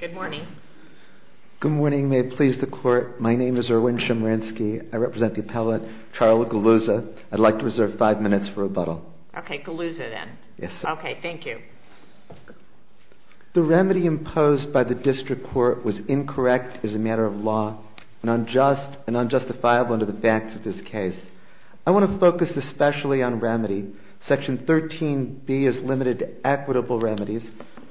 Good morning. Good morning. May it please the court. My name is Erwin Chemerinsky. I represent the appellate, Charles Gugliuzza. I'd like to reserve five minutes for rebuttal. Okay, Gugliuzza, then. Yes, sir. Okay, thank you. The remedy imposed by the district court was incorrect as a matter of law and unjustifiable under the facts of this case. I want to focus especially on remedy. Section 13B is limited to equitable remedies.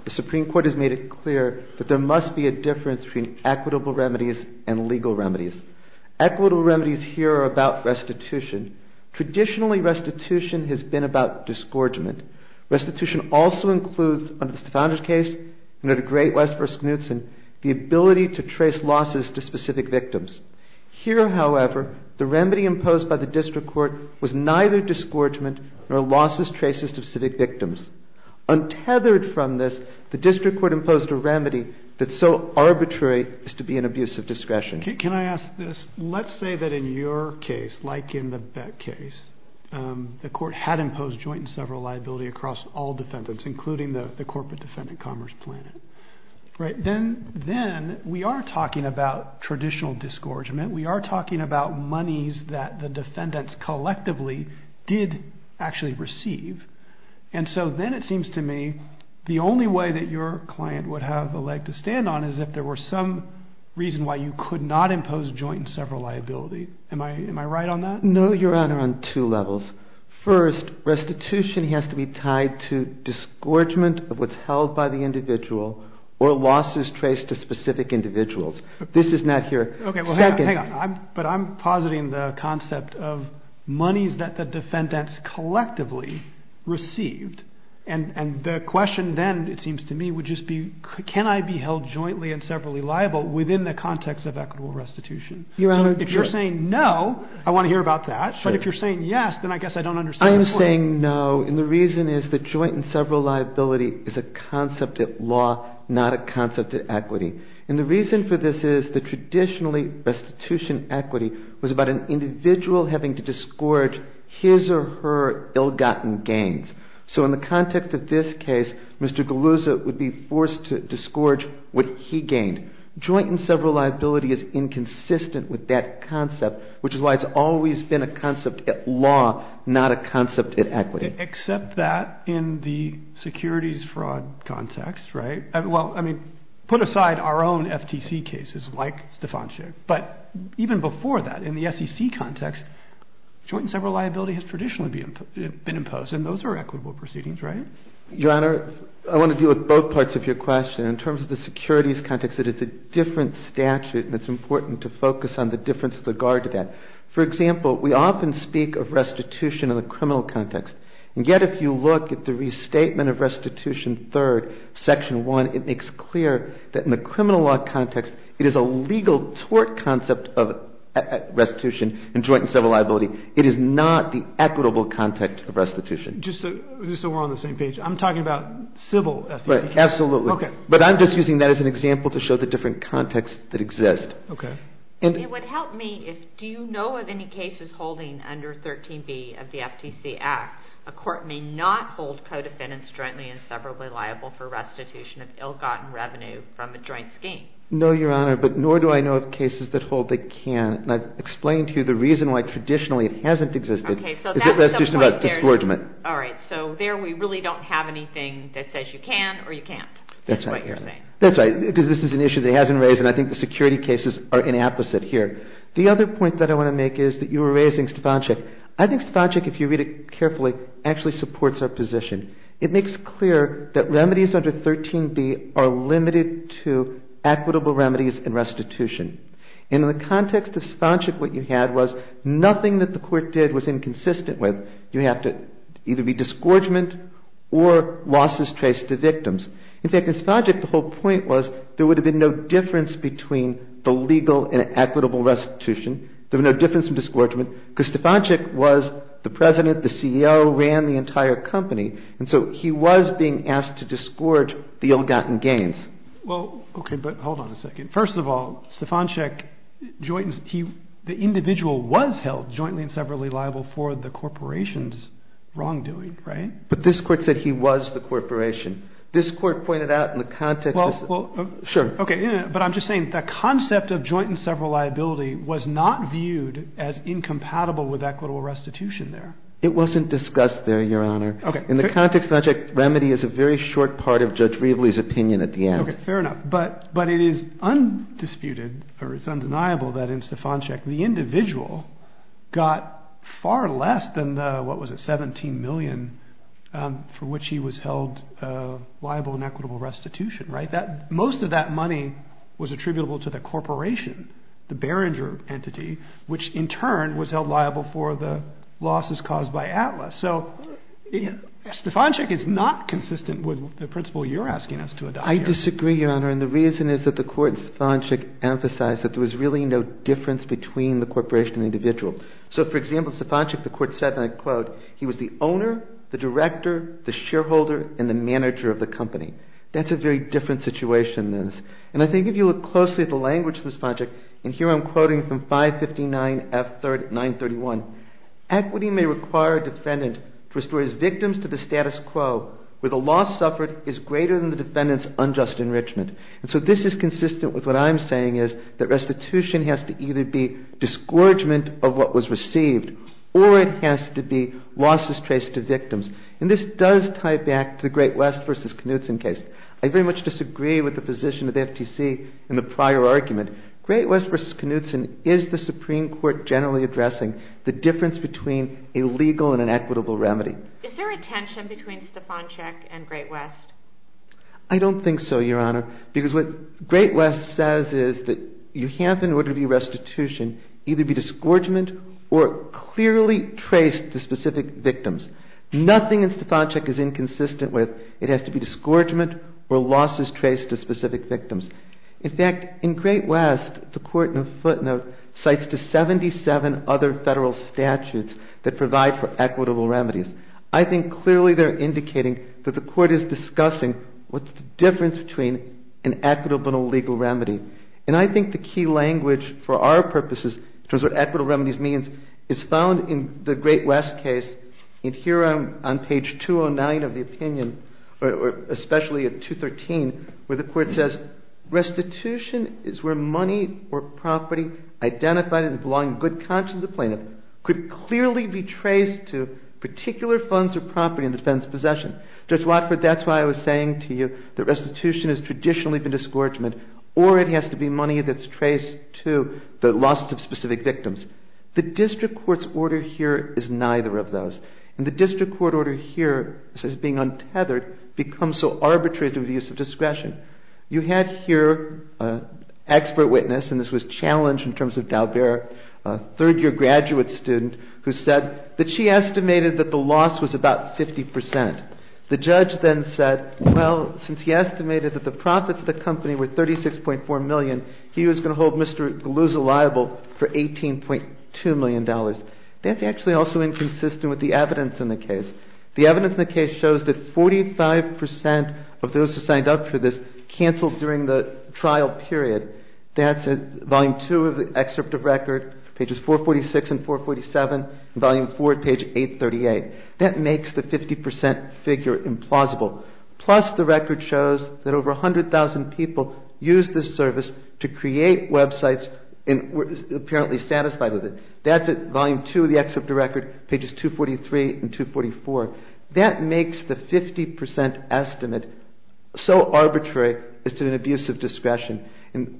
The Supreme Court has made it clear that there must be a difference between equitable remedies and legal remedies. Equitable remedies here are about restitution. Traditionally, restitution has been about disgorgement. Restitution also implies that the remedy imposed by the district court was neither disgorgement nor losses, traces of civic victims. Untethered from this, the district court imposed a remedy that's so arbitrary as to be an abuse of discretion. Can I ask this? Let's say that in your case, like in the Beck case, the court had imposed joint and several liability. Am I right on that? No, Your Honor, on two levels. First, restitution has to be tied to disgorgement of what's held by the individual or losses traced to specific individuals. Okay, well, hang on. But I'm positing the concept of monies that the defendants collectively received. And the question then, it seems to me, would just be can I be held jointly and separately liable within the context of equitable restitution? So if you're saying no, I want to hear about that. But if you're saying yes, then I guess I don't understand. I am saying no, and the reason is that joint and several liability is a concept at law, not a concept at equity. And the reason for this is that traditionally restitution equity was about an individual having to disgorge his or her ill-gotten gains. So in the context of this case, Mr. Galluzza would be forced to disgorge what he gained. Joint and several liability is inconsistent with that concept, which is why it's always been a concept at law, not a concept at equity. Except that in the securities fraud context, right? Well, I mean, put aside our own FTC cases like Stefanczyk, but even before that, in the SEC context, joint and several liability has traditionally been imposed, and those are equitable proceedings, right? Your Honor, I want to deal with both parts of your question. In terms of the securities context, it is a different statute, and it's important to focus on the difference with regard to that. For example, we often speak of restitution in the criminal context, and yet if you look at the restatement of restitution third, section one, it makes clear that in the criminal law context, it is a legal tort concept of restitution and joint and several liability. It is not the civil SEC case. Right. Absolutely. Okay. But I'm just using that as an example to show the different contexts that exist. Okay. It would help me if, do you know of any cases holding under 13B of the FTC Act, a court may not hold co-defendants jointly and severably liable for restitution of ill-gotten revenue from a joint scheme? No, Your Honor, but nor do I know of cases that hold they can't, and I've explained to you the reason why traditionally it doesn't. All right. So there we really don't have anything that says you can or you can't. That's right. That's what you're saying. That's right, because this is an issue that hasn't been raised, and I think the security cases are inapposite here. The other point that I want to make is that you were raising Stefanczyk. I think Stefanczyk, if you read it carefully, actually supports our position. It makes clear that remedies under 13B are limited to equitable remedies and restitution. And in the context of Stefanczyk, what you had was nothing that the court did was inconsistent with it. You have to either be disgorgement or losses traced to victims. In fact, in Stefanczyk, the whole point was there would have been no difference between the legal and equitable restitution. There would be no difference in disgorgement, because Stefanczyk was the president, the CEO, ran the entire company, and so he was being asked to disgorge the ill-gotten gains. Well, okay, but hold on a second. First of all, Stefanczyk, the individual, was held jointly and severally liable for the corporation's wrongdoing, right? But this court said he was the corporation. This court pointed out in the context of... Well, sure. Okay, but I'm just saying the concept of joint and several liability was not viewed as incompatible with equitable restitution there. It wasn't discussed there, Your Honor. Okay. In the context of Stefanczyk, remedy is a very short part of Judge Stefanczyk's case. The individual got far less than the, what was it, $17 million for which he was held liable in equitable restitution, right? Most of that money was attributable to the corporation, the Behringer entity, which in turn was held liable for the losses caused by Atlas. So Stefanczyk is not So, for example, Stefanczyk, the court said, and I quote, he was the owner, the director, the shareholder, and the manager of the company. That's a very different situation. And I think if you look closely at the language of Stefanczyk, and here I'm quoting from 559F931, equity may require a defendant to restore his victims to the status quo where the loss suffered is greater than the defendant's unjust enrichment. And so this is received or it has to be losses traced to victims. And this does tie back to the Great West versus Knutson case. I very much disagree with the position of the FTC in the prior argument. Great West versus Knutson, is the Supreme Court generally addressing the difference between a legal and an equitable remedy? Is there a tension between Stefanczyk and Great West? I don't think so, Your Honor, because what Great West says is that you have in order to be restitution, either be disgorgement or clearly traced to specific victims. Nothing in Stefanczyk is inconsistent with it has to be disgorgement or losses traced to specific victims. In fact, in Great West, the court in a footnote cites the 77 other federal statutes that provide for equitable remedies. I think clearly they're indicating that the court is discussing what's the difference between an equitable and a disgorgement, in which for our purposes, in terms of what equitable remedies means, is found in the Great West case. And here on page 209 of the opinion, or especially at 213, where the court says restitution is where money or property identified as belonging to the good conscience of the plaintiff could clearly be traced to particular funds or property in the defendant's possession. Judge Watford, that's why I was saying to you that specific victims. The district court's order here is neither of those. And the district court order here says being untethered becomes so arbitrary through the use of discretion. You had here an expert witness, and this was challenged in terms of Dalbert, a third-year graduate student who said that she estimated that the loss was about 50%. The judge then said, well, since he estimated that the profits of the company were $36.4 million, he was going to hold Mr. Galusa liable for $18.2 million. That's actually also inconsistent with the evidence in the case. The evidence in the case shows that 45% of those who signed up for this canceled during the trial period. That's at volume 2 of the excerpt of record, pages 446 and 447, and volume 4 at page 838. That makes the 50% figure implausible. Plus, the record shows that over 100,000 people used this service to create websites and were apparently satisfied with it. That's at volume 2 of the excerpt of record, pages 243 and 244. That makes the 50% estimate so arbitrary as to an abuse of discretion.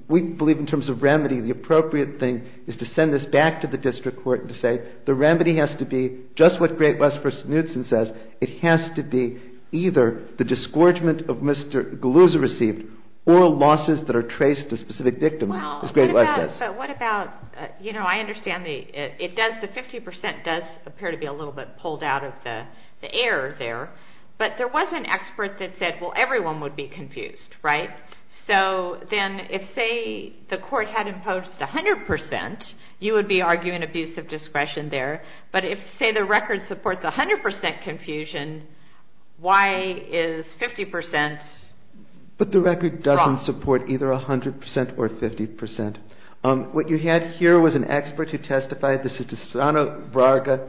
We believe in terms of remedy, the appropriate thing is to send this back to the district court and say, the remedy has to be just what Great West v. Knudsen says. It has to be either the disgorgement of Mr. Galusa received or losses that are traced to specific victims, as Great West says. I understand the 50% does appear to be a little bit pulled out of the air there, but there was an expert that said, well, everyone would be confused, right? So then if, say, the court had imposed 100%, you would be arguing abuse of discretion there, but if, say, the record supports 100% confusion, why is 50% wrong? The court record doesn't support either 100% or 50%. What you had here was an expert who testified. This is the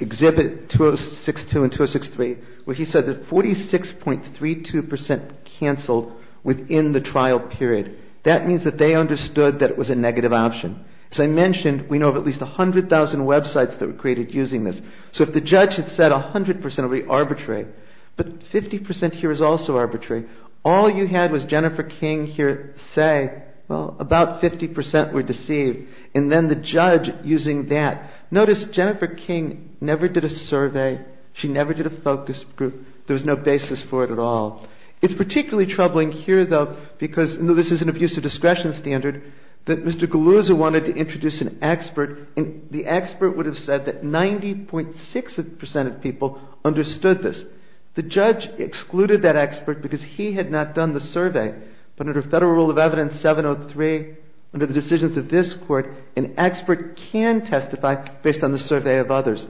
exhibit 2062 and 2063, where he said that 46.32% canceled within the trial period. That means that they understood that it was a negative option. As I mentioned, we know of at least 100,000 websites that were created using this. So if the judge had said 100%, it would be arbitrary, but 50% here is also arbitrary. All you had was Jennifer King here say, well, about 50% were deceived, and then the judge using that. Notice Jennifer King never did a survey. She never did a focus group. There was no basis for it at all. It's particularly troubling here, though, because this is an abuse of discretion standard, that Mr. Galusa wanted to introduce an expert, and the expert would have said that 90.6% of people understood this. The judge excluded that expert because he had not done the survey, but under Federal Rule of Evidence 703, under the decisions of this court, an expert can testify based on the survey of others.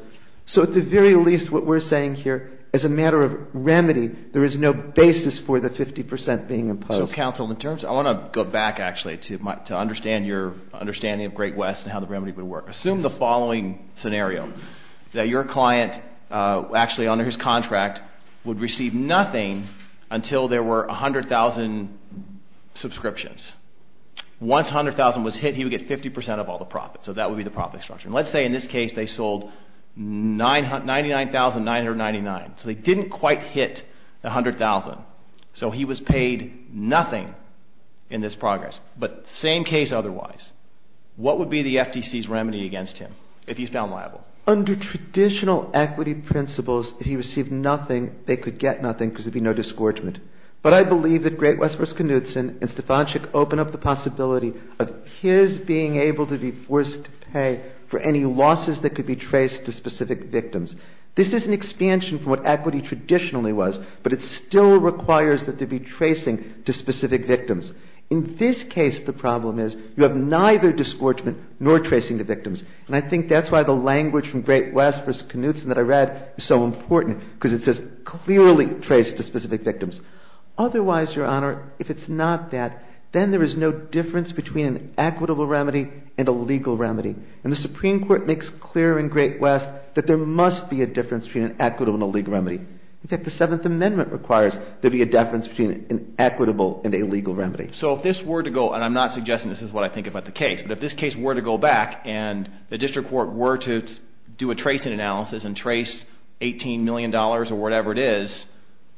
So at the very least, what we're saying here, as a matter of remedy, there is no basis for the 50% being imposed. So counsel, in terms – I want to go back, actually, to understand your understanding of Great West and how the remedy would work. Assume the following scenario, that your client, actually under his contract, would receive nothing until there were 100,000 subscriptions. Once 100,000 was hit, he would get 50% of all the profits, so that would be the profit structure. Let's say in this case they sold 99,999, so they didn't quite hit the 100,000, so he was paid nothing in this progress. But same case otherwise. What would be the FTC's remedy against him, if he's found liable? Under traditional equity principles, if he received nothing, they could get nothing because there'd be no disgorgement. But I believe that Great West v. Knutson and Stefanczyk open up the possibility of his being able to be forced to pay for any losses that could be traced to specific victims. This is an expansion from what equity traditionally was, but it still requires that there be tracing to specific victims. In this case, the problem is, you have neither disgorgement nor tracing to victims. And I think that's why the language from Great West v. Knutson that I read is so important, because it says clearly trace to specific victims. Otherwise, Your Honor, if it's not that, then there is no difference between an equitable remedy and a legal remedy. And the Supreme Court makes clear in Great West that there must be a difference between an equitable and a legal remedy. In fact, the Seventh Amendment requires there be a difference between an equitable and a legal remedy. So if this were to go, and I'm not suggesting this is what I think about the case, but if this case were to go back and the district court were to do a tracing analysis and trace $18 million or whatever it is,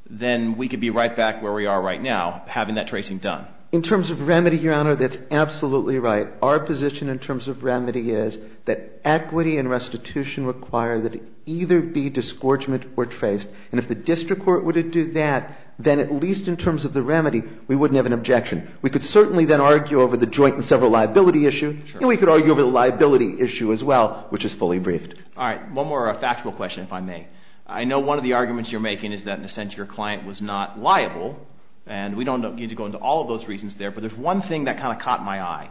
then we could be right back where we are right now, having that tracing done. In terms of remedy, Your Honor, that's absolutely right. Our position in terms of remedy is that equity and restitution require that it either be disgorgement or traced. And if the district court were to do that, then at least in terms of the remedy, we wouldn't have an objection. We could certainly then argue over the joint and several liability issue, and we could argue over the liability issue as well, which is fully briefed. All right. One more factual question, if I may. I know one of the arguments you're making is that in a sense your client was not liable, and we don't need to go into all of those reasons there, but there's one thing that kind of caught my eye,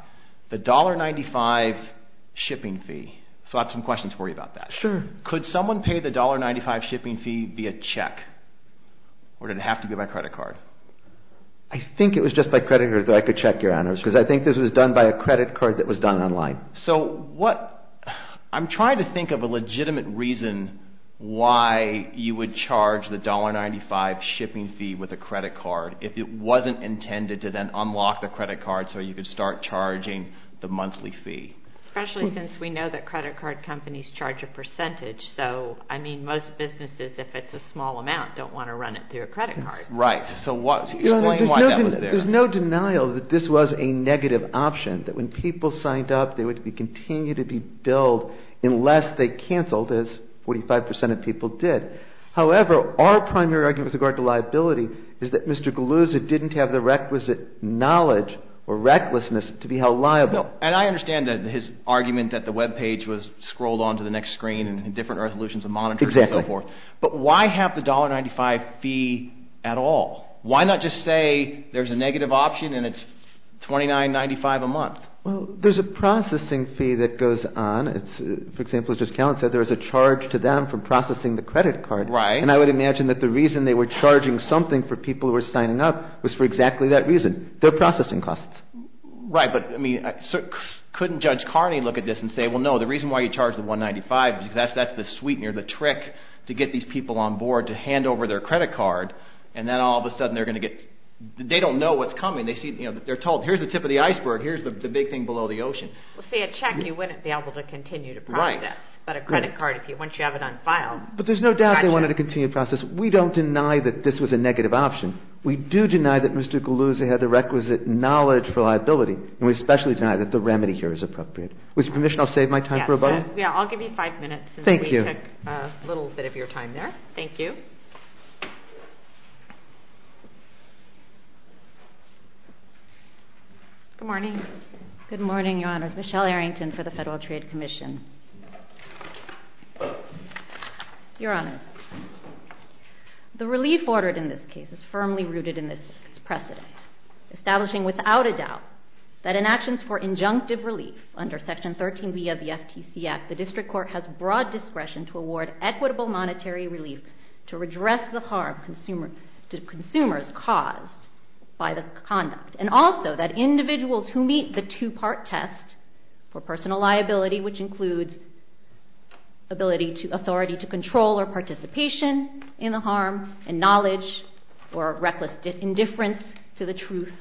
the $1.95 shipping fee. So I have some questions for you about that. Sure. Could someone pay the $1.95 shipping fee via check, or did it have to be by credit card? I think it was just by credit card, so I could check, Your Honors, because I think this was done by a credit card that was done online. So what – I'm trying to think of a legitimate reason why you would charge the $1.95 shipping fee with a credit card if it wasn't intended to then unlock the credit card so you could start charging the monthly fee. Especially since we know that credit card companies charge a percentage. So, I mean, most businesses, if it's a small amount, don't want to run it through a credit card. Right. So explain why that was there. There's no denial that this was a negative option, that when people signed up, they would continue to be billed unless they canceled, as 45 percent of people did. However, our primary argument with regard to liability is that Mr. Galuzza didn't have the requisite knowledge or recklessness to be held liable. And I understand his argument that the web page was scrolled onto the next screen and different resolutions and monitors and so forth. Exactly. But why have the $1.95 fee at all? Why not just say there's a negative option and it's $29.95 a month? Well, there's a processing fee that goes on. For example, as Judge Callen said, there was a charge to them for processing the credit card. Right. And I would imagine that the reason they were charging something for people who were signing up was for exactly that reason. Their processing costs. Right. But, I mean, couldn't Judge Carney look at this and say, well, no, the reason why you charged the $1.95 is because that's the sweetener, the trick to get these people on board to hand over their credit card. And then all of a sudden they're going to get, they don't know what's coming. They're told, here's the tip of the iceberg, here's the big thing below the ocean. Well, see, a check you wouldn't be able to continue to process. Right. But a credit card, once you have it on file. But there's no doubt they wanted to continue to process. We don't deny that this was a negative option. We do deny that Mr. Galuzza had the requisite knowledge for liability. And we especially deny that the remedy here is appropriate. With your permission, I'll save my time for a button. Yeah, I'll give you five minutes. Thank you. We took a little bit of your time there. Thank you. Good morning. Good morning, Your Honors. Michelle Arrington for the Federal Trade Commission. Your Honor, the relief ordered in this case is firmly rooted in this precedent, establishing without a doubt that in actions for injunctive relief under Section 13B of the FTC Act, the District Court has broad discretion to award equitable monetary relief to redress the harm to consumers caused by the conduct, and also that individuals who meet the two-part test for personal liability, which includes authority to control or participation in the harm, and knowledge or reckless indifference to the truth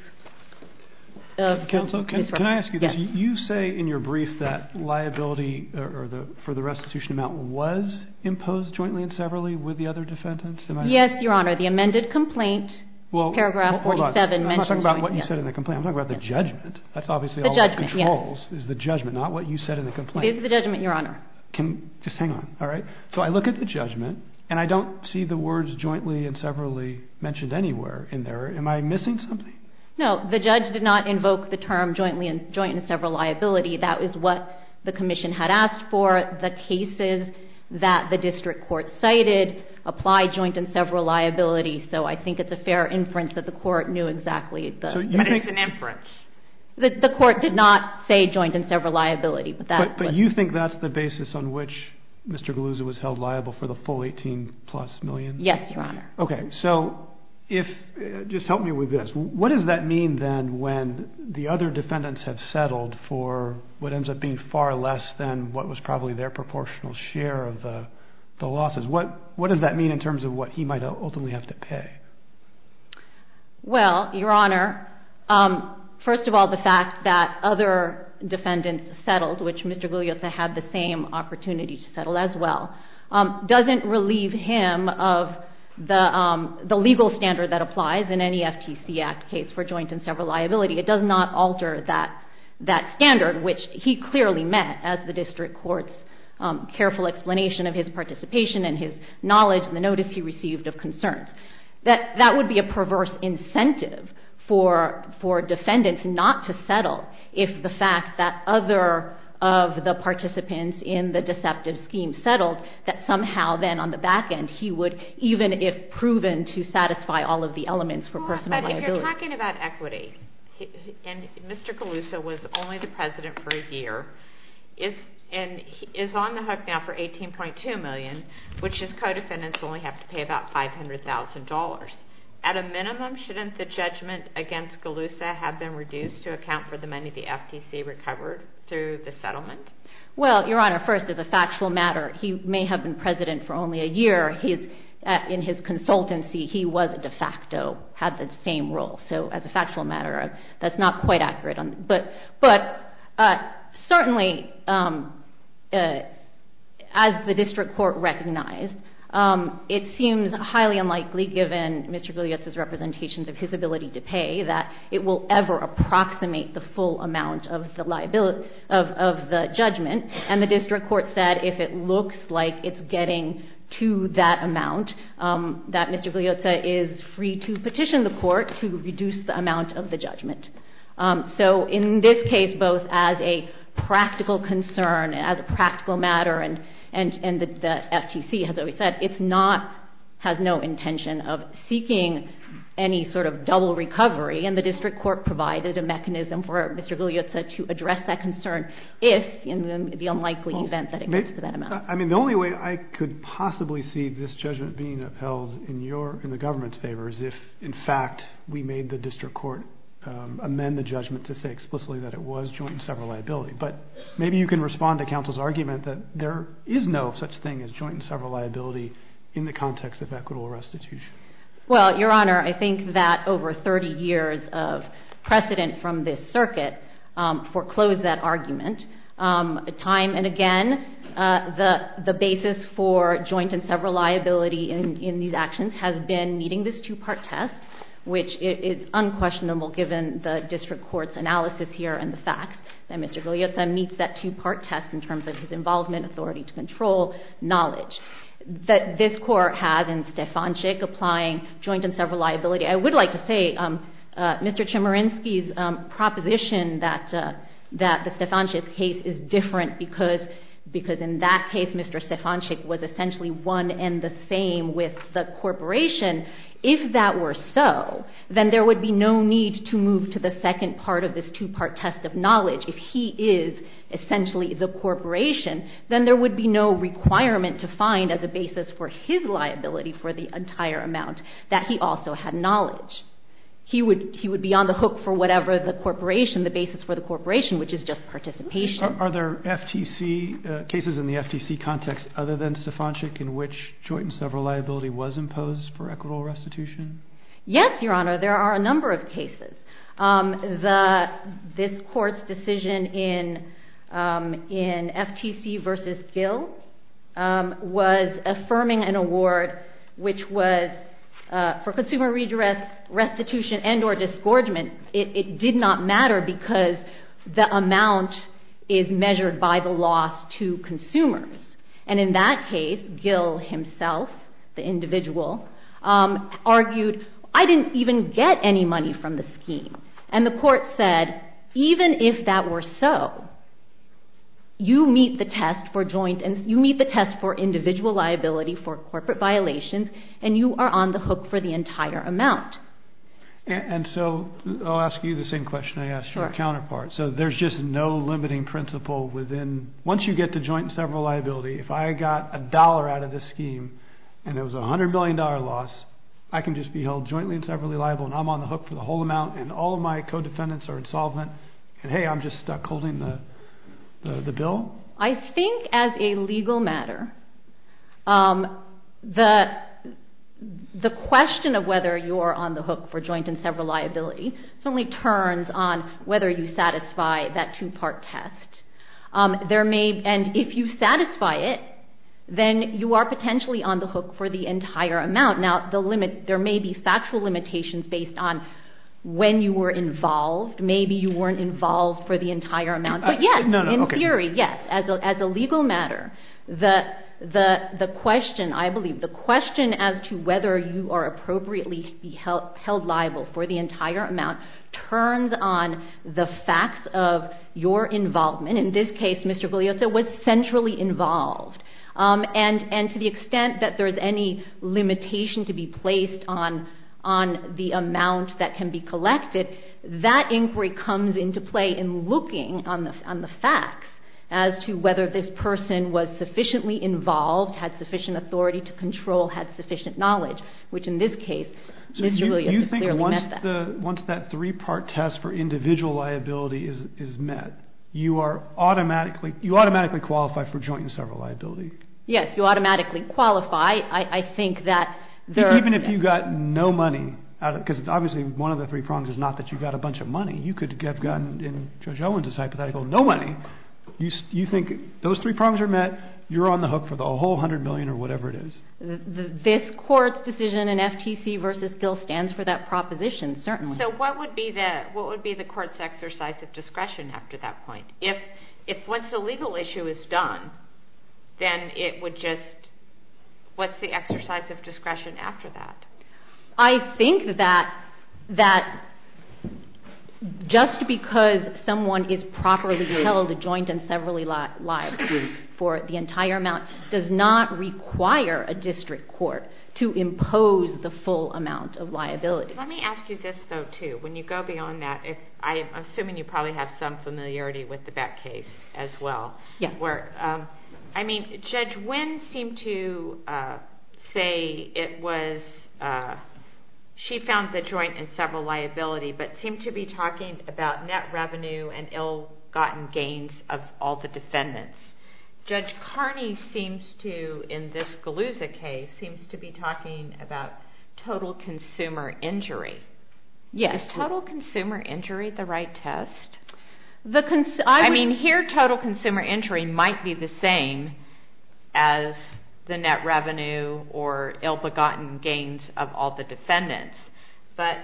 of this record. Counsel, can I ask you this? Yes. You say in your brief that liability for the restitution amount was imposed jointly and severally with the other defendants, am I right? Yes, Your Honor. The amended complaint, paragraph 47 mentions that. Well, hold on. I'm not talking about what you said in the complaint. I'm talking about the judgment. The judgment, yes. That's obviously all that controls is the judgment, not what you said in the complaint. It is the judgment, Your Honor. Just hang on. All right? So I look at the judgment, and I don't see the words jointly and severally mentioned anywhere in there. Am I missing something? No. The judge did not invoke the term jointly and severally liability. That is what the Commission had asked for. The cases that the District Court cited apply joint and severally liability, so I think it's a fair inference that the Court knew exactly the – But it's an inference. The Court did not say joint and severally liability. But you think that's the basis on which Mr. Galuzza was held liable for the full 18-plus million? Yes, Your Honor. Okay. So if – just help me with this. What does that mean then when the other defendants have settled for what ends up being far less than what was probably their proportional share of the losses? What does that mean in terms of what he might ultimately have to pay? Well, Your Honor, first of all, the fact that other defendants settled, which Mr. Galuzza had the same opportunity to settle as well, doesn't relieve him of the legal standard that applies in any FTC Act case for joint and severally liability. It does not alter that standard, which he clearly met, as the District Court's careful explanation of his participation and his knowledge and the notice he received of concerns. That would be a perverse incentive for defendants not to settle if the fact that other of the participants in the deceptive scheme settled, that somehow then on the back end he would, even if proven to satisfy all of the elements for personal liability. But if you're talking about equity, and Mr. Galuzza was only the president for a year, and is on the hook now for $18.2 million, which his co-defendants only have to pay about $500,000. At a minimum, shouldn't the judgment against Galuzza have been reduced to account for the money the FTC recovered through the settlement? Well, Your Honor, first, as a factual matter, he may have been president for only a year. In his consultancy, he was de facto, had the same role. So as a factual matter, that's not quite accurate. But certainly, as the district court recognized, it seems highly unlikely, given Mr. Galuzza's representations of his ability to pay, that it will ever approximate the full amount of the judgment. And the district court said if it looks like it's getting to that amount, that Mr. Galuzza is free to petition the court to reduce the amount of the judgment. So in this case, both as a practical concern, as a practical matter, and the FTC has always said it has no intention of seeking any sort of double recovery, and the district court provided a mechanism for Mr. Galuzza to address that concern if in the unlikely event that it gets to that amount. I mean, the only way I could possibly see this judgment being upheld in the government's favor is if, in fact, we made the district court amend the judgment to say explicitly that it was joint and several liability. But maybe you can respond to counsel's argument that there is no such thing as joint and several liability in the context of equitable restitution. Well, Your Honor, I think that over 30 years of precedent from this circuit foreclosed that argument. Time and again, the basis for joint and several liability in these actions has been meeting this two-part test, which is unquestionable given the district court's analysis here and the facts, that Mr. Galuzza meets that two-part test in terms of his involvement, authority to control, knowledge, that this court has in Stefanczyk applying joint and several liability. I would like to say Mr. Chemerinsky's proposition that the Stefanczyk case is different because in that case, Mr. Stefanczyk was essentially one and the same with the corporation. If that were so, then there would be no need to move to the second part of this two-part test of knowledge. If he is essentially the corporation, then there would be no requirement to find as a basis for his liability for the entire amount that he also had knowledge. He would be on the hook for whatever the corporation, the basis for the corporation, which is just participation. Are there FTC cases in the FTC context other than Stefanczyk in which joint and several liability was imposed for equitable restitution? Yes, Your Honor. There are a number of cases. This court's decision in FTC v. Gill was affirming an award, which was for consumer redress, restitution, and or disgorgement. It did not matter because the amount is measured by the loss to consumers. In that case, Gill himself, the individual, argued, I didn't even get any money from the scheme. The court said, even if that were so, you meet the test for individual liability for corporate violations and you are on the hook for the entire amount. I'll ask you the same question I asked your counterpart. There's just no limiting principle within. Once you get to joint and several liability, if I got a dollar out of the scheme and it was a $100 million loss, I can just be held jointly and severally liable and I'm on the hook for the whole amount and all of my co-defendants are insolvent and, hey, I'm just stuck holding the bill? I think, as a legal matter, the question of whether you're on the hook for joint and several liability certainly turns on whether you satisfy that two-part test. And if you satisfy it, then you are potentially on the hook for the entire amount. Now, there may be factual limitations based on when you were involved. Maybe you weren't involved for the entire amount. But, yes, in theory, yes. As a legal matter, the question, I believe, the question as to whether you are appropriately held liable for the entire amount turns on the facts of your involvement. In this case, Mr. Gugliotta was centrally involved. And to the extent that there's any limitation to be placed on the amount that can be collected, that inquiry comes into play in looking on the facts as to whether this person was sufficiently involved, had sufficient authority to control, had sufficient knowledge, which in this case, Mr. Gugliotta clearly met that. So you think once that three-part test for individual liability is met, you automatically qualify for joint and several liability? Yes, you automatically qualify. Even if you got no money, because obviously one of the three prongs is not that you got a bunch of money. You could have gotten, in Judge Owens' hypothetical, no money. You think those three prongs are met. You're on the hook for the whole $100 million or whatever it is. This Court's decision in FTC v. Gill stands for that proposition, certainly. So what would be the Court's exercise of discretion after that point? If once a legal issue is done, then it would just—what's the exercise of discretion after that? I think that just because someone is properly held a joint and several liability for the entire amount does not require a district court to impose the full amount of liability. Let me ask you this, though, too. When you go beyond that, I'm assuming you probably have some familiarity with the Beck case as well. Yeah. I mean, Judge Wynn seemed to say it was—she found the joint and several liability, but seemed to be talking about net revenue and ill-gotten gains of all the defendants. Judge Carney seems to, in this Galuzza case, seems to be talking about total consumer injury. Yes. Is total consumer injury the right test? I mean, here, total consumer injury might be the same as the net revenue or ill-begotten gains of all the defendants, but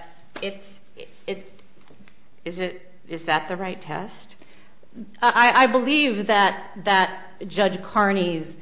is that the right test? I believe that Judge Carney's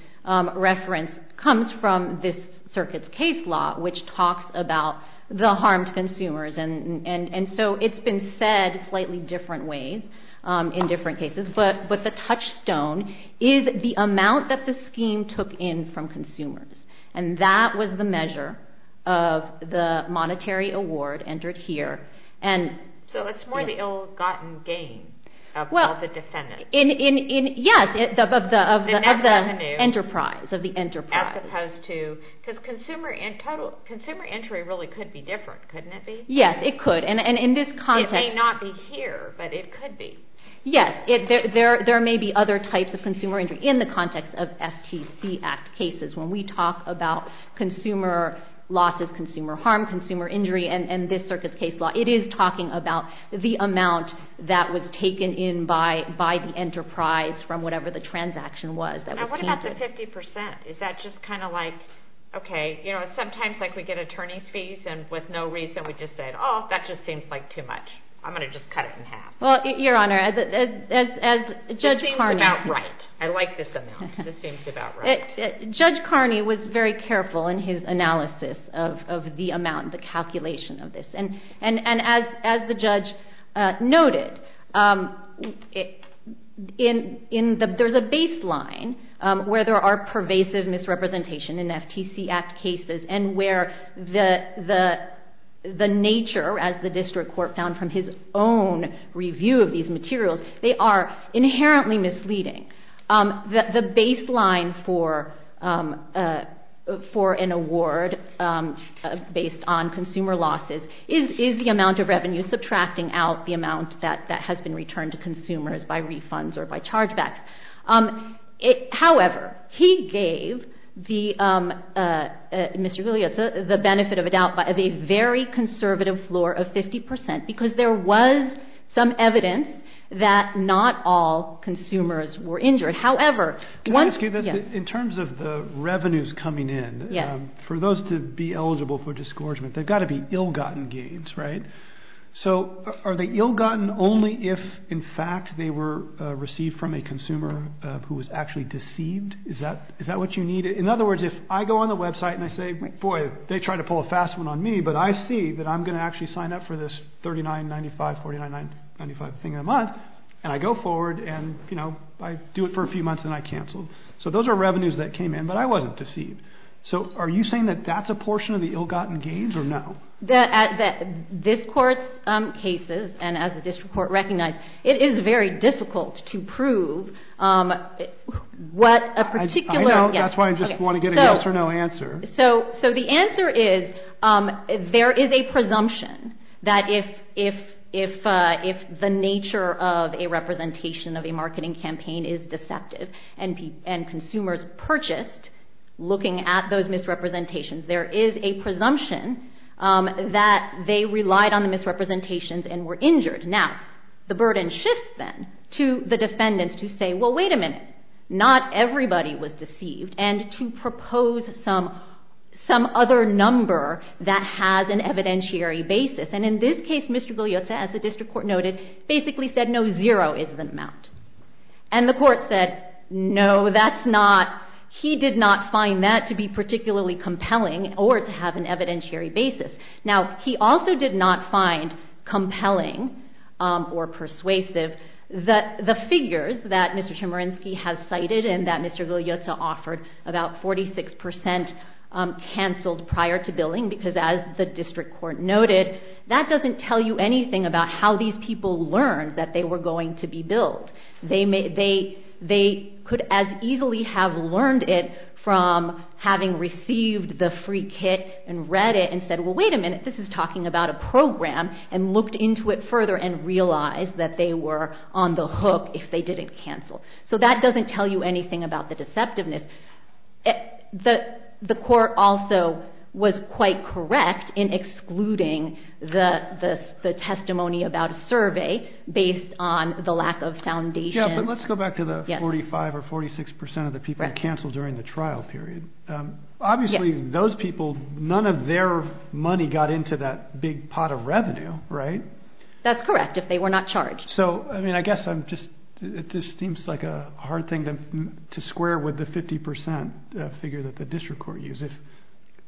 reference comes from this circuit's case law, which talks about the harmed consumers, and so it's been said slightly different ways in different cases, but the touchstone is the amount that the scheme took in from consumers, and that was the measure of the monetary award entered here. So it's more the ill-gotten gain of all the defendants? Yes, of the enterprise. As opposed to—because consumer injury really could be different, couldn't it be? Yes, it could, and in this context— It may not be here, but it could be. Yes. There may be other types of consumer injury in the context of FTC Act cases. When we talk about consumer losses, consumer harm, consumer injury, and this circuit's case law, it is talking about the amount that was taken in by the enterprise from whatever the transaction was. And what about the 50 percent? Is that just kind of like, okay, you know, sometimes, like, we get attorney's fees, and with no reason we just say, oh, that just seems like too much. I'm going to just cut it in half. Well, Your Honor, as Judge Carney— It seems about right. I like this amount. Judge Carney was very careful in his analysis of the amount, the calculation of this. And as the judge noted, there's a baseline where there are pervasive misrepresentations in FTC Act cases and where the nature, as the district court found from his own review of these materials, they are inherently misleading. The baseline for an award based on consumer losses is the amount of revenue subtracting out the amount that has been returned to consumers by refunds or by chargebacks. However, he gave the benefit of a doubt of a very conservative floor of 50 percent because there was some evidence that not all consumers were injured. However— Can I ask you this? Yes. In terms of the revenues coming in, for those to be eligible for disgorgement, they've got to be ill-gotten gains, right? So are they ill-gotten only if, in fact, they were received from a consumer who was actually deceived? Is that what you need? In other words, if I go on the website and I say, boy, they tried to pull a fast one on me, but I see that I'm going to actually sign up for this $39.95, $49.95 thing a month, and I go forward and, you know, I do it for a few months and I cancel. So those are revenues that came in, but I wasn't deceived. So are you saying that that's a portion of the ill-gotten gains or no? This court's cases, and as the district court recognized, it is very difficult to prove what a particular— I know. That's why I just want to get a yes or no answer. So the answer is there is a presumption that if the nature of a representation of a marketing campaign is deceptive and consumers purchased looking at those misrepresentations, there is a presumption that they relied on the misrepresentations and were injured. Now, the burden shifts then to the defendants to say, well, wait a minute. Not everybody was deceived, and to propose some other number that has an evidentiary basis. And in this case, Mr. Goliotsa, as the district court noted, basically said, no, zero is the amount. And the court said, no, that's not—he did not find that to be particularly compelling or to have an evidentiary basis. Now, he also did not find compelling or persuasive that the figures that Mr. Chemerinsky has cited and that Mr. Goliotsa offered about 46 percent canceled prior to billing, because as the district court noted, that doesn't tell you anything about how these people learned that they were going to be billed. They could as easily have learned it from having received the free kit and read it and said, well, wait a minute, this is talking about a program and looked into it further and realized that they were on the hook if they didn't cancel. So that doesn't tell you anything about the deceptiveness. The court also was quite correct in excluding the testimony about a survey based on the lack of foundation. Yeah, but let's go back to the 45 or 46 percent of the people that canceled during the trial period. Obviously, those people, none of their money got into that big pot of revenue, right? That's correct, if they were not charged. So, I mean, I guess I'm just—it just seems like a hard thing to square with the 50 percent figure that the district court used.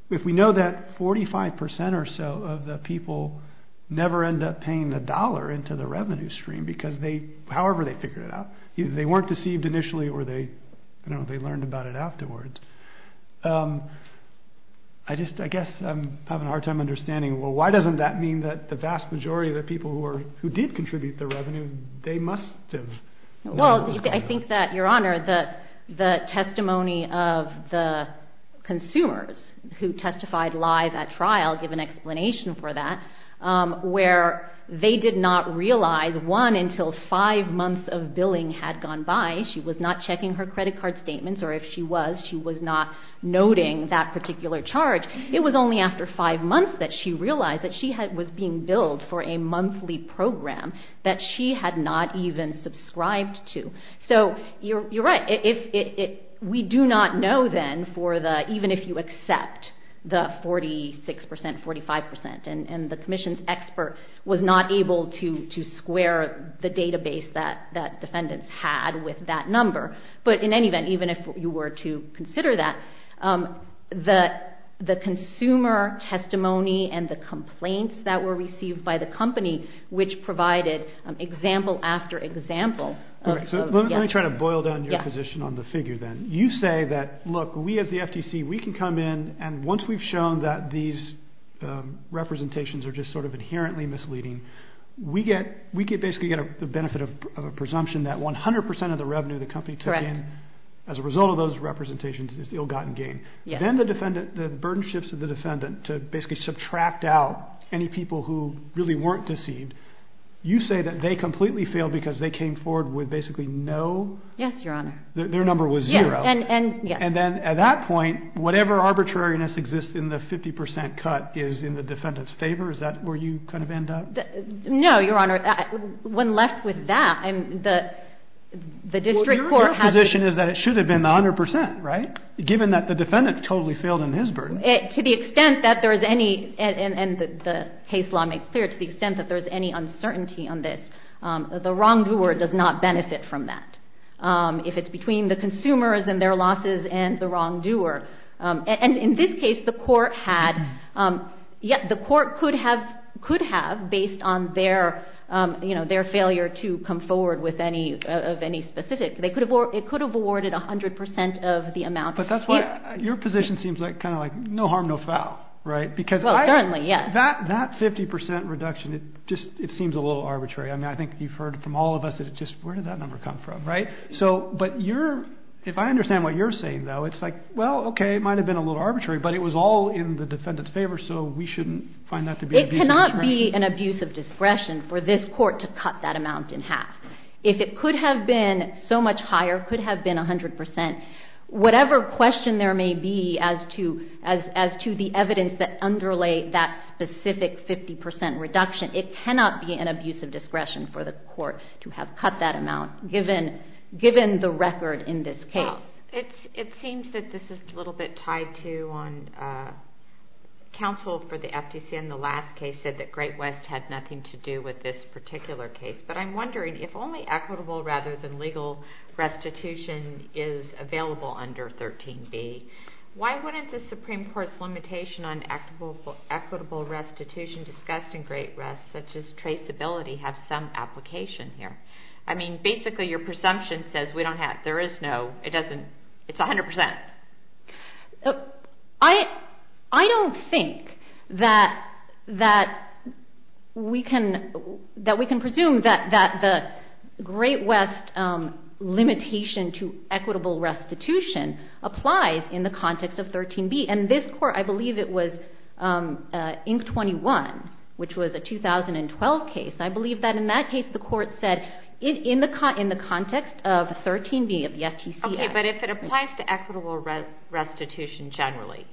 If we know that 45 percent or so of the people never end up paying the dollar into the revenue stream because they— I just—I guess I'm having a hard time understanding. Well, why doesn't that mean that the vast majority of the people who did contribute their revenue, they must have— Well, I think that, Your Honor, the testimony of the consumers who testified live at trial give an explanation for that, where they did not realize, one, until five months of billing had gone by, she was not checking her credit card statements, or if she was, she was not noting that particular charge. It was only after five months that she realized that she was being billed for a monthly program that she had not even subscribed to. So, you're right. We do not know, then, for the—even if you accept the 46 percent, 45 percent, and the commission's expert was not able to square the database that defendants had with that number. But in any event, even if you were to consider that, the consumer testimony and the complaints that were received by the company, which provided example after example of— Let me try to boil down your position on the figure, then. You say that, look, we as the FTC, we can come in, and once we've shown that these representations are just sort of inherently misleading, we get—we basically get the benefit of a presumption that 100 percent of the revenue the company took in as a result of those representations is ill-gotten gain. Yes. Then the defendant—the burden shifts to the defendant to basically subtract out any people who really weren't deceived. You say that they completely failed because they came forward with basically no— Yes, Your Honor. Their number was zero. Yes. And then at that point, whatever arbitrariness exists in the 50 percent cut is in the defendant's favor? Is that where you kind of end up? No, Your Honor. When left with that, the district court has— Well, your position is that it should have been the 100 percent, right, given that the defendant totally failed in his burden? To the extent that there is any—and the case law makes clear—to the extent that there is any uncertainty on this, the wrongdoer does not benefit from that. If it's between the consumers and their losses and the wrongdoer. And in this case, the court had—the court could have, based on their failure to come forward with any specific—it could have awarded 100 percent of the amount. But that's why your position seems kind of like no harm, no foul, right? Well, certainly, yes. Because that 50 percent reduction, it just seems a little arbitrary. I mean, I think you've heard from all of us that it just—where did that number come from, right? So—but you're—if I understand what you're saying, though, it's like, well, okay, it might have been a little arbitrary, but it was all in the defendant's favor, so we shouldn't find that to be— It cannot be an abuse of discretion for this court to cut that amount in half. If it could have been so much higher, could have been 100 percent, whatever question there may be as to the evidence that underlay that specific 50 percent reduction, it cannot be an abuse of discretion for the court to have cut that amount, given the record in this case. Well, it seems that this is a little bit tied to—Counsel for the FTC in the last case said that Great West had nothing to do with this particular case. But I'm wondering, if only equitable rather than legal restitution is available under 13B, why wouldn't the Supreme Court's limitation on equitable restitution discussed in Great West, such as traceability, have some application here? I mean, basically, your presumption says we don't have—there is no—it doesn't—it's 100 percent. I don't think that we can presume that the Great West limitation to equitable restitution applies in the context of 13B. And this court, I believe it was Inc. 21, which was a 2012 case, I believe that in that case the court said, in the context of 13B of the FTC Act— Equitable restitution generally.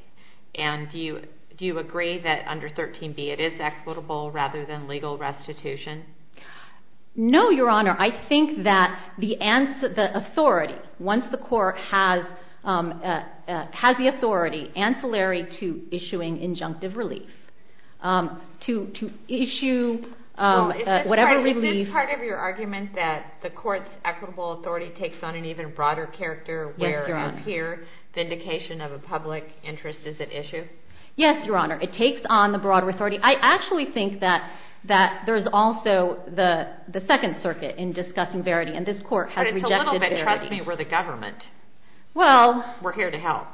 And do you agree that under 13B it is equitable rather than legal restitution? No, Your Honor. I think that the authority, once the court has the authority ancillary to issuing injunctive relief, to issue whatever relief— Vindication of a public interest is at issue? Yes, Your Honor. It takes on the broader authority. I actually think that there is also the Second Circuit in discussing verity, and this court has rejected verity. But it's a little bit, trust me, where the government— Well— We're here to help.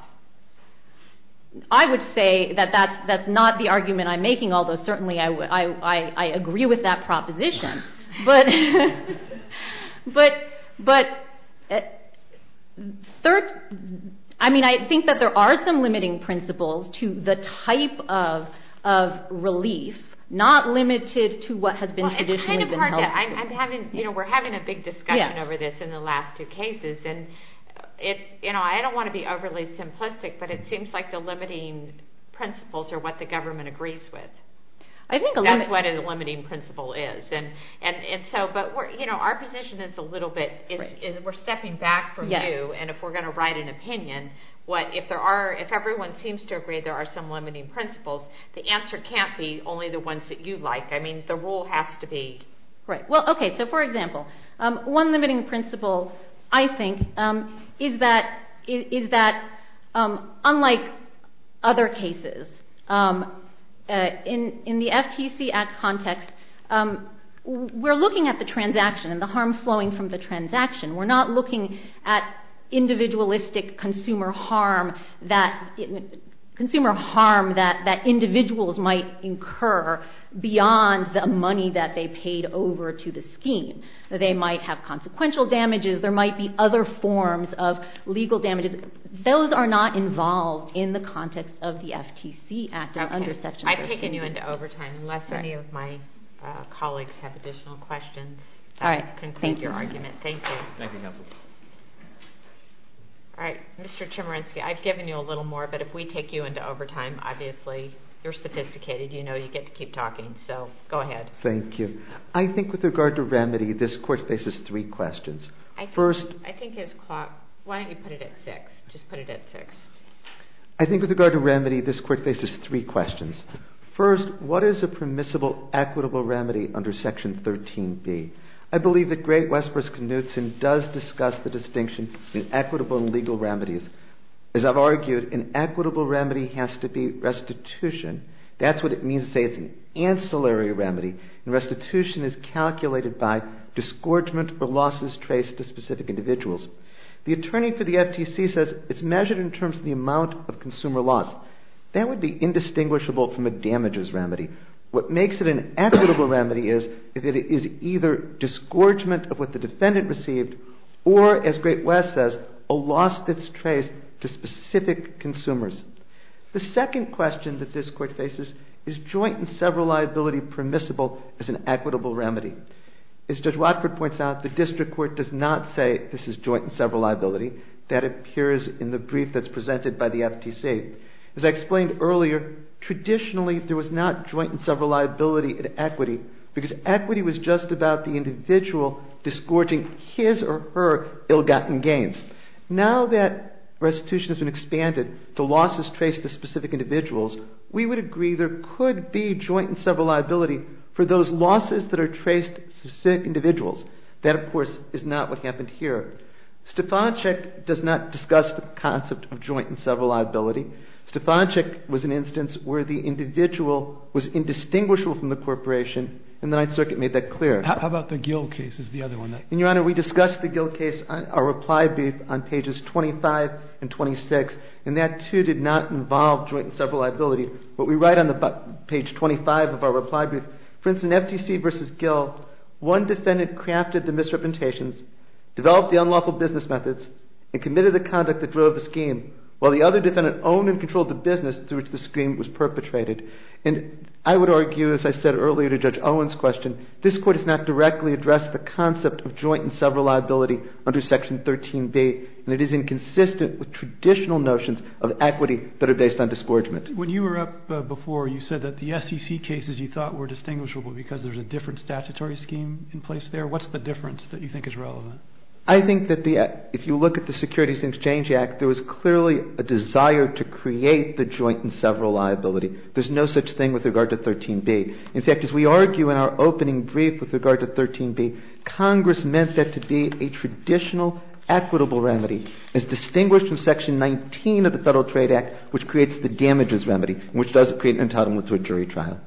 I would say that that's not the argument I'm making, although certainly I agree with that proposition. But, I mean, I think that there are some limiting principles to the type of relief, not limited to what has been traditionally been held. It's kind of hard to—we're having a big discussion over this in the last two cases, and I don't want to be overly simplistic, but it seems like the limiting principles are what the government agrees with. That's what a limiting principle is. But our position is a little bit—we're stepping back from you, and if we're going to write an opinion, if everyone seems to agree there are some limiting principles, the answer can't be only the ones that you like. I mean, the rule has to be— Well, okay, so for example, one limiting principle, I think, is that, unlike other cases, in the FTC Act context, we're looking at the transaction and the harm flowing from the transaction. We're not looking at individualistic consumer harm that individuals might incur beyond the money that they paid over to the scheme. They might have consequential damages. There might be other forms of legal damages. Those are not involved in the context of the FTC Act or under Section 13. I've taken you into overtime. Unless any of my colleagues have additional questions, I'll conclude your argument. Thank you. Thank you, Counsel. All right, Mr. Chemerinsky, I've given you a little more, but if we take you into overtime, obviously you're sophisticated, you know you get to keep talking, so go ahead. Thank you. I think with regard to remedy, this Court faces three questions. First— I think his clock—why don't you put it at 6? Just put it at 6. I think with regard to remedy, this Court faces three questions. First, what is a permissible equitable remedy under Section 13b? I believe that Great Westbrook's Knudsen does discuss the distinction between equitable and legal remedies. As I've argued, an equitable remedy has to be restitution. That's what it means to say it's an ancillary remedy, and restitution is calculated by disgorgement or losses traced to specific individuals. The attorney for the FTC says it's measured in terms of the amount of consumer loss. That would be indistinguishable from a damages remedy. What makes it an equitable remedy is if it is either disgorgement of what the defendant received, or, as Great West says, a loss that's traced to specific consumers. The second question that this Court faces, is joint and several liability permissible as an equitable remedy? As Judge Watford points out, the district court does not say this is joint and several liability. That appears in the brief that's presented by the FTC. As I explained earlier, traditionally there was not joint and several liability in equity, because equity was just about the individual disgorging his or her ill-gotten gains. Now that restitution has been expanded to losses traced to specific individuals, we would agree there could be joint and several liability for those losses that are traced to specific individuals. That, of course, is not what happened here. Stefanczyk does not discuss the concept of joint and several liability. Stefanczyk was an instance where the individual was indistinguishable from the corporation, and the Ninth Circuit made that clear. How about the Gill case is the other one? And, Your Honor, we discussed the Gill case, our reply brief, on pages 25 and 26, and that, too, did not involve joint and several liability. What we write on page 25 of our reply brief, for instance, FTC v. Gill, one defendant crafted the misrepresentations, developed the unlawful business methods, and committed the conduct that drove the scheme, while the other defendant owned and controlled the business through which the scheme was perpetrated. And I would argue, as I said earlier to Judge Owen's question, this Court has not directly addressed the concept of joint and several liability under Section 13B, and it is inconsistent with traditional notions of equity that are based on disgorgement. When you were up before, you said that the SEC cases you thought were distinguishable because there's a different statutory scheme in place there. What's the difference that you think is relevant? I think that if you look at the Securities and Exchange Act, there was clearly a desire to create the joint and several liability. There's no such thing with regard to 13B. In fact, as we argue in our opening brief with regard to 13B, Congress meant that to be a traditional equitable remedy as distinguished from Section 19 of the Federal Trade Act, which creates the damages remedy, which does create entitlement to a jury trial.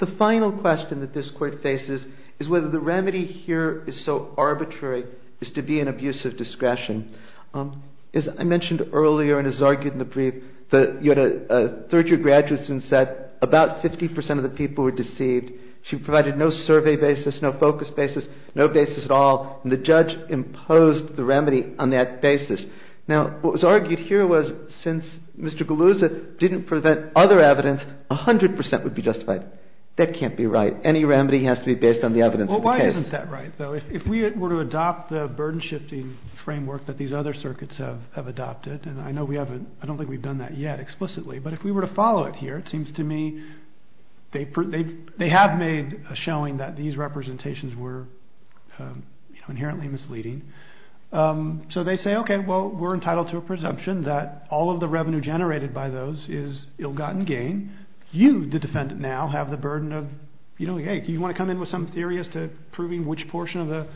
The final question that this Court faces is whether the remedy here is so arbitrary as to be an abuse of discretion. As I mentioned earlier and as argued in the brief, you had a third-year graduate student who said about 50% of the people were deceived. She provided no survey basis, no focus basis, no basis at all, and the judge imposed the remedy on that basis. Now, what was argued here was since Mr. Galuzza didn't prevent other evidence, 100% would be justified. That can't be right. Any remedy has to be based on the evidence of the case. Why isn't that right, though? If we were to adopt the burden-shifting framework that these other circuits have adopted, and I don't think we've done that yet explicitly, but if we were to follow it here, it seems to me they have made a showing that these representations were inherently misleading. So they say, okay, well, we're entitled to a presumption that all of the revenue generated by those is ill-gotten gain. You, the defendant now, have the burden of, you know, hey, do you want to come in with some theory as to proving which portion of the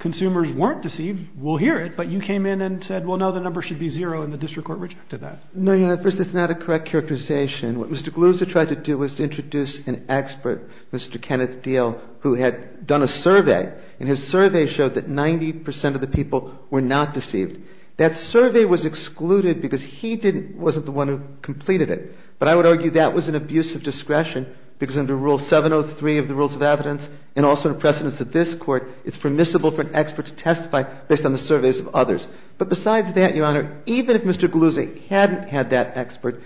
consumers weren't deceived? We'll hear it. But you came in and said, well, no, the number should be zero, and the district court rejected that. No, Your Honor. First, it's not a correct characterization. What Mr. Galuzza tried to do was to introduce an expert, Mr. Kenneth Deal, who had done a survey, and his survey showed that 90% of the people were not deceived. That survey was excluded because he wasn't the one who completed it. But I would argue that was an abuse of discretion, because under Rule 703 of the Rules of Evidence, and also in precedence of this Court, it's permissible for an expert to testify based on the surveys of others. But besides that, Your Honor, even if Mr. Galuzza hadn't had that expert,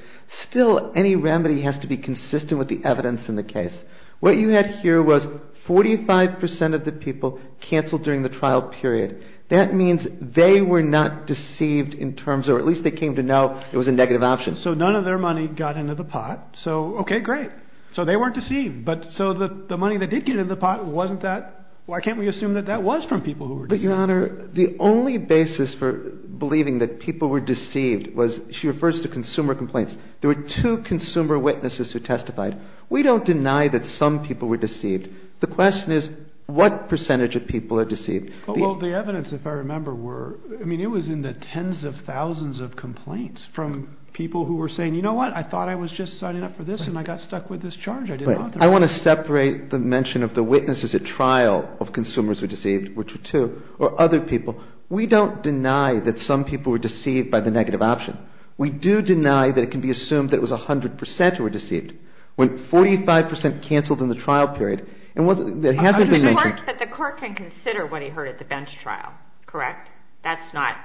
still any remedy has to be consistent with the evidence in the case. What you had here was 45% of the people canceled during the trial period. That means they were not deceived in terms of, or at least they came to know it was a negative option. So none of their money got into the pot. So, okay, great. So they weren't deceived. But so the money that did get into the pot wasn't that. Why can't we assume that that was from people who were deceived? But, Your Honor, the only basis for believing that people were deceived was, she refers to consumer complaints. There were two consumer witnesses who testified. We don't deny that some people were deceived. The question is what percentage of people are deceived. Well, the evidence, if I remember, were, I mean, it was in the tens of thousands of complaints from people who were saying, you know what, I thought I was just signing up for this, and I got stuck with this charge. I want to separate the mention of the witnesses at trial of consumers who were deceived, which were two, or other people. We don't deny that some people were deceived by the negative option. We do deny that it can be assumed that it was 100% who were deceived. When 45% canceled in the trial period, and what hasn't been mentioned. But the court can consider what he heard at the bench trial, correct? That's not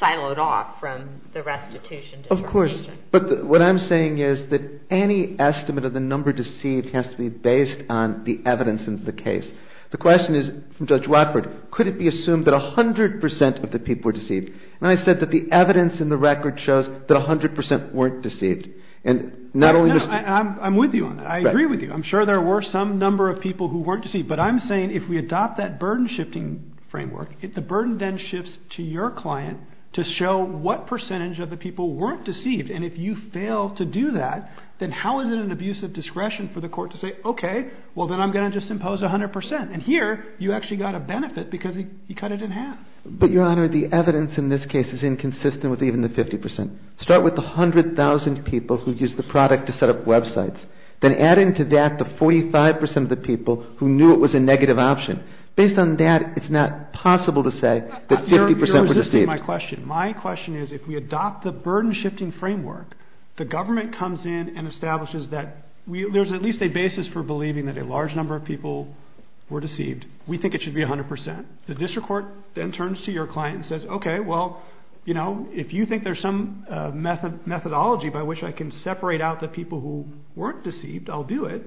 siloed off from the restitution determination. Of course. But what I'm saying is that any estimate of the number deceived has to be based on the evidence in the case. The question is, from Judge Watford, could it be assumed that 100% of the people were deceived? And I said that the evidence in the record shows that 100% weren't deceived. And not only this. I'm with you on that. I agree with you. I'm sure there were some number of people who weren't deceived. But I'm saying if we adopt that burden-shifting framework, the burden then shifts to your client to show what percentage of the people weren't deceived. And if you fail to do that, then how is it an abuse of discretion for the court to say, okay, well then I'm going to just impose 100%. And here, you actually got a benefit because he cut it in half. But, Your Honor, the evidence in this case is inconsistent with even the 50%. Start with the 100,000 people who used the product to set up websites. Then add into that the 45% of the people who knew it was a negative option. Based on that, it's not possible to say that 50% were deceived. You're resisting my question. My question is, if we adopt the burden-shifting framework, the government comes in and establishes that there's at least a basis for believing that a large number of people were deceived. We think it should be 100%. The district court then turns to your client and says, okay, well, you know, if you think there's some methodology by which I can separate out the people who weren't deceived, I'll do it.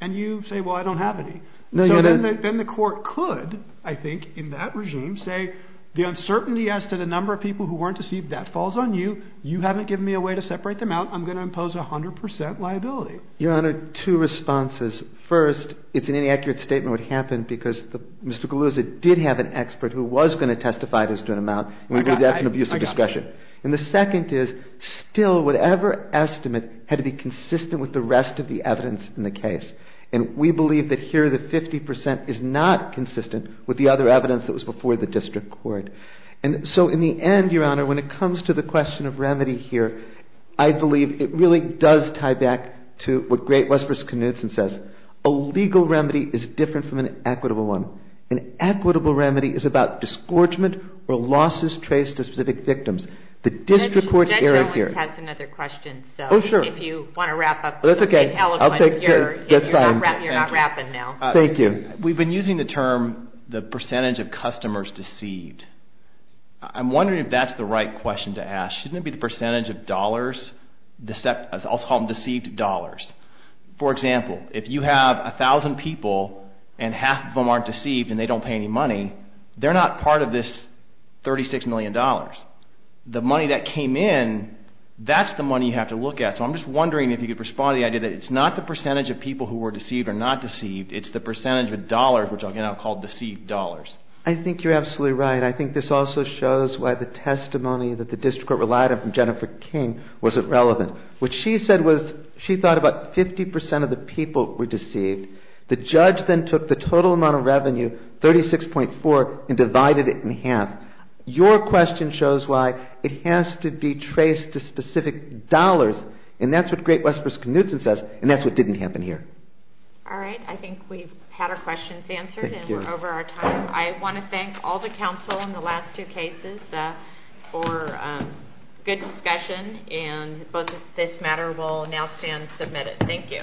And you say, well, I don't have any. So then the court could, I think, in that regime, say the uncertainty as to the number of people who weren't deceived, that falls on you. You haven't given me a way to separate them out. I'm going to impose 100% liability. Your Honor, two responses. First, it's an inaccurate statement what happened because Mr. Galuzza did have an expert who was going to testify to this to an amount. And we did that through abuse of discretion. And the second is, still, whatever estimate had to be consistent with the rest of the evidence in the case. And we believe that here the 50% is not consistent with the other evidence that was before the district court. And so in the end, Your Honor, when it comes to the question of remedy here, I believe it really does tie back to what Great Westford's Knudsen says. A legal remedy is different from an equitable one. An equitable remedy is about disgorgement or losses traced to specific victims. The district court error here. Judge Owens has another question. Oh, sure. If you want to wrap up. That's okay. You're not wrapping now. Thank you. We've been using the term the percentage of customers deceived. I'm wondering if that's the right question to ask. Shouldn't it be the percentage of dollars, I'll call them deceived dollars? For example, if you have 1,000 people and half of them aren't deceived and they don't pay any money, they're not part of this $36 million. The money that came in, that's the money you have to look at. So I'm just wondering if you could respond to the idea that it's not the percentage of people who were deceived or not deceived, it's the percentage of dollars, which I'll now call deceived dollars. I think you're absolutely right. I think this also shows why the testimony that the district court relied on from Jennifer King wasn't relevant. What she said was she thought about 50% of the people were deceived. The judge then took the total amount of revenue, 36.4, and divided it in half. Your question shows why it has to be traced to specific dollars, and that's what Great West Virginia says, and that's what didn't happen here. All right. I think we've had our questions answered and we're over our time. I want to thank all the counsel in the last two cases for good discussion, and both of this matter will now stand submitted. Thank you.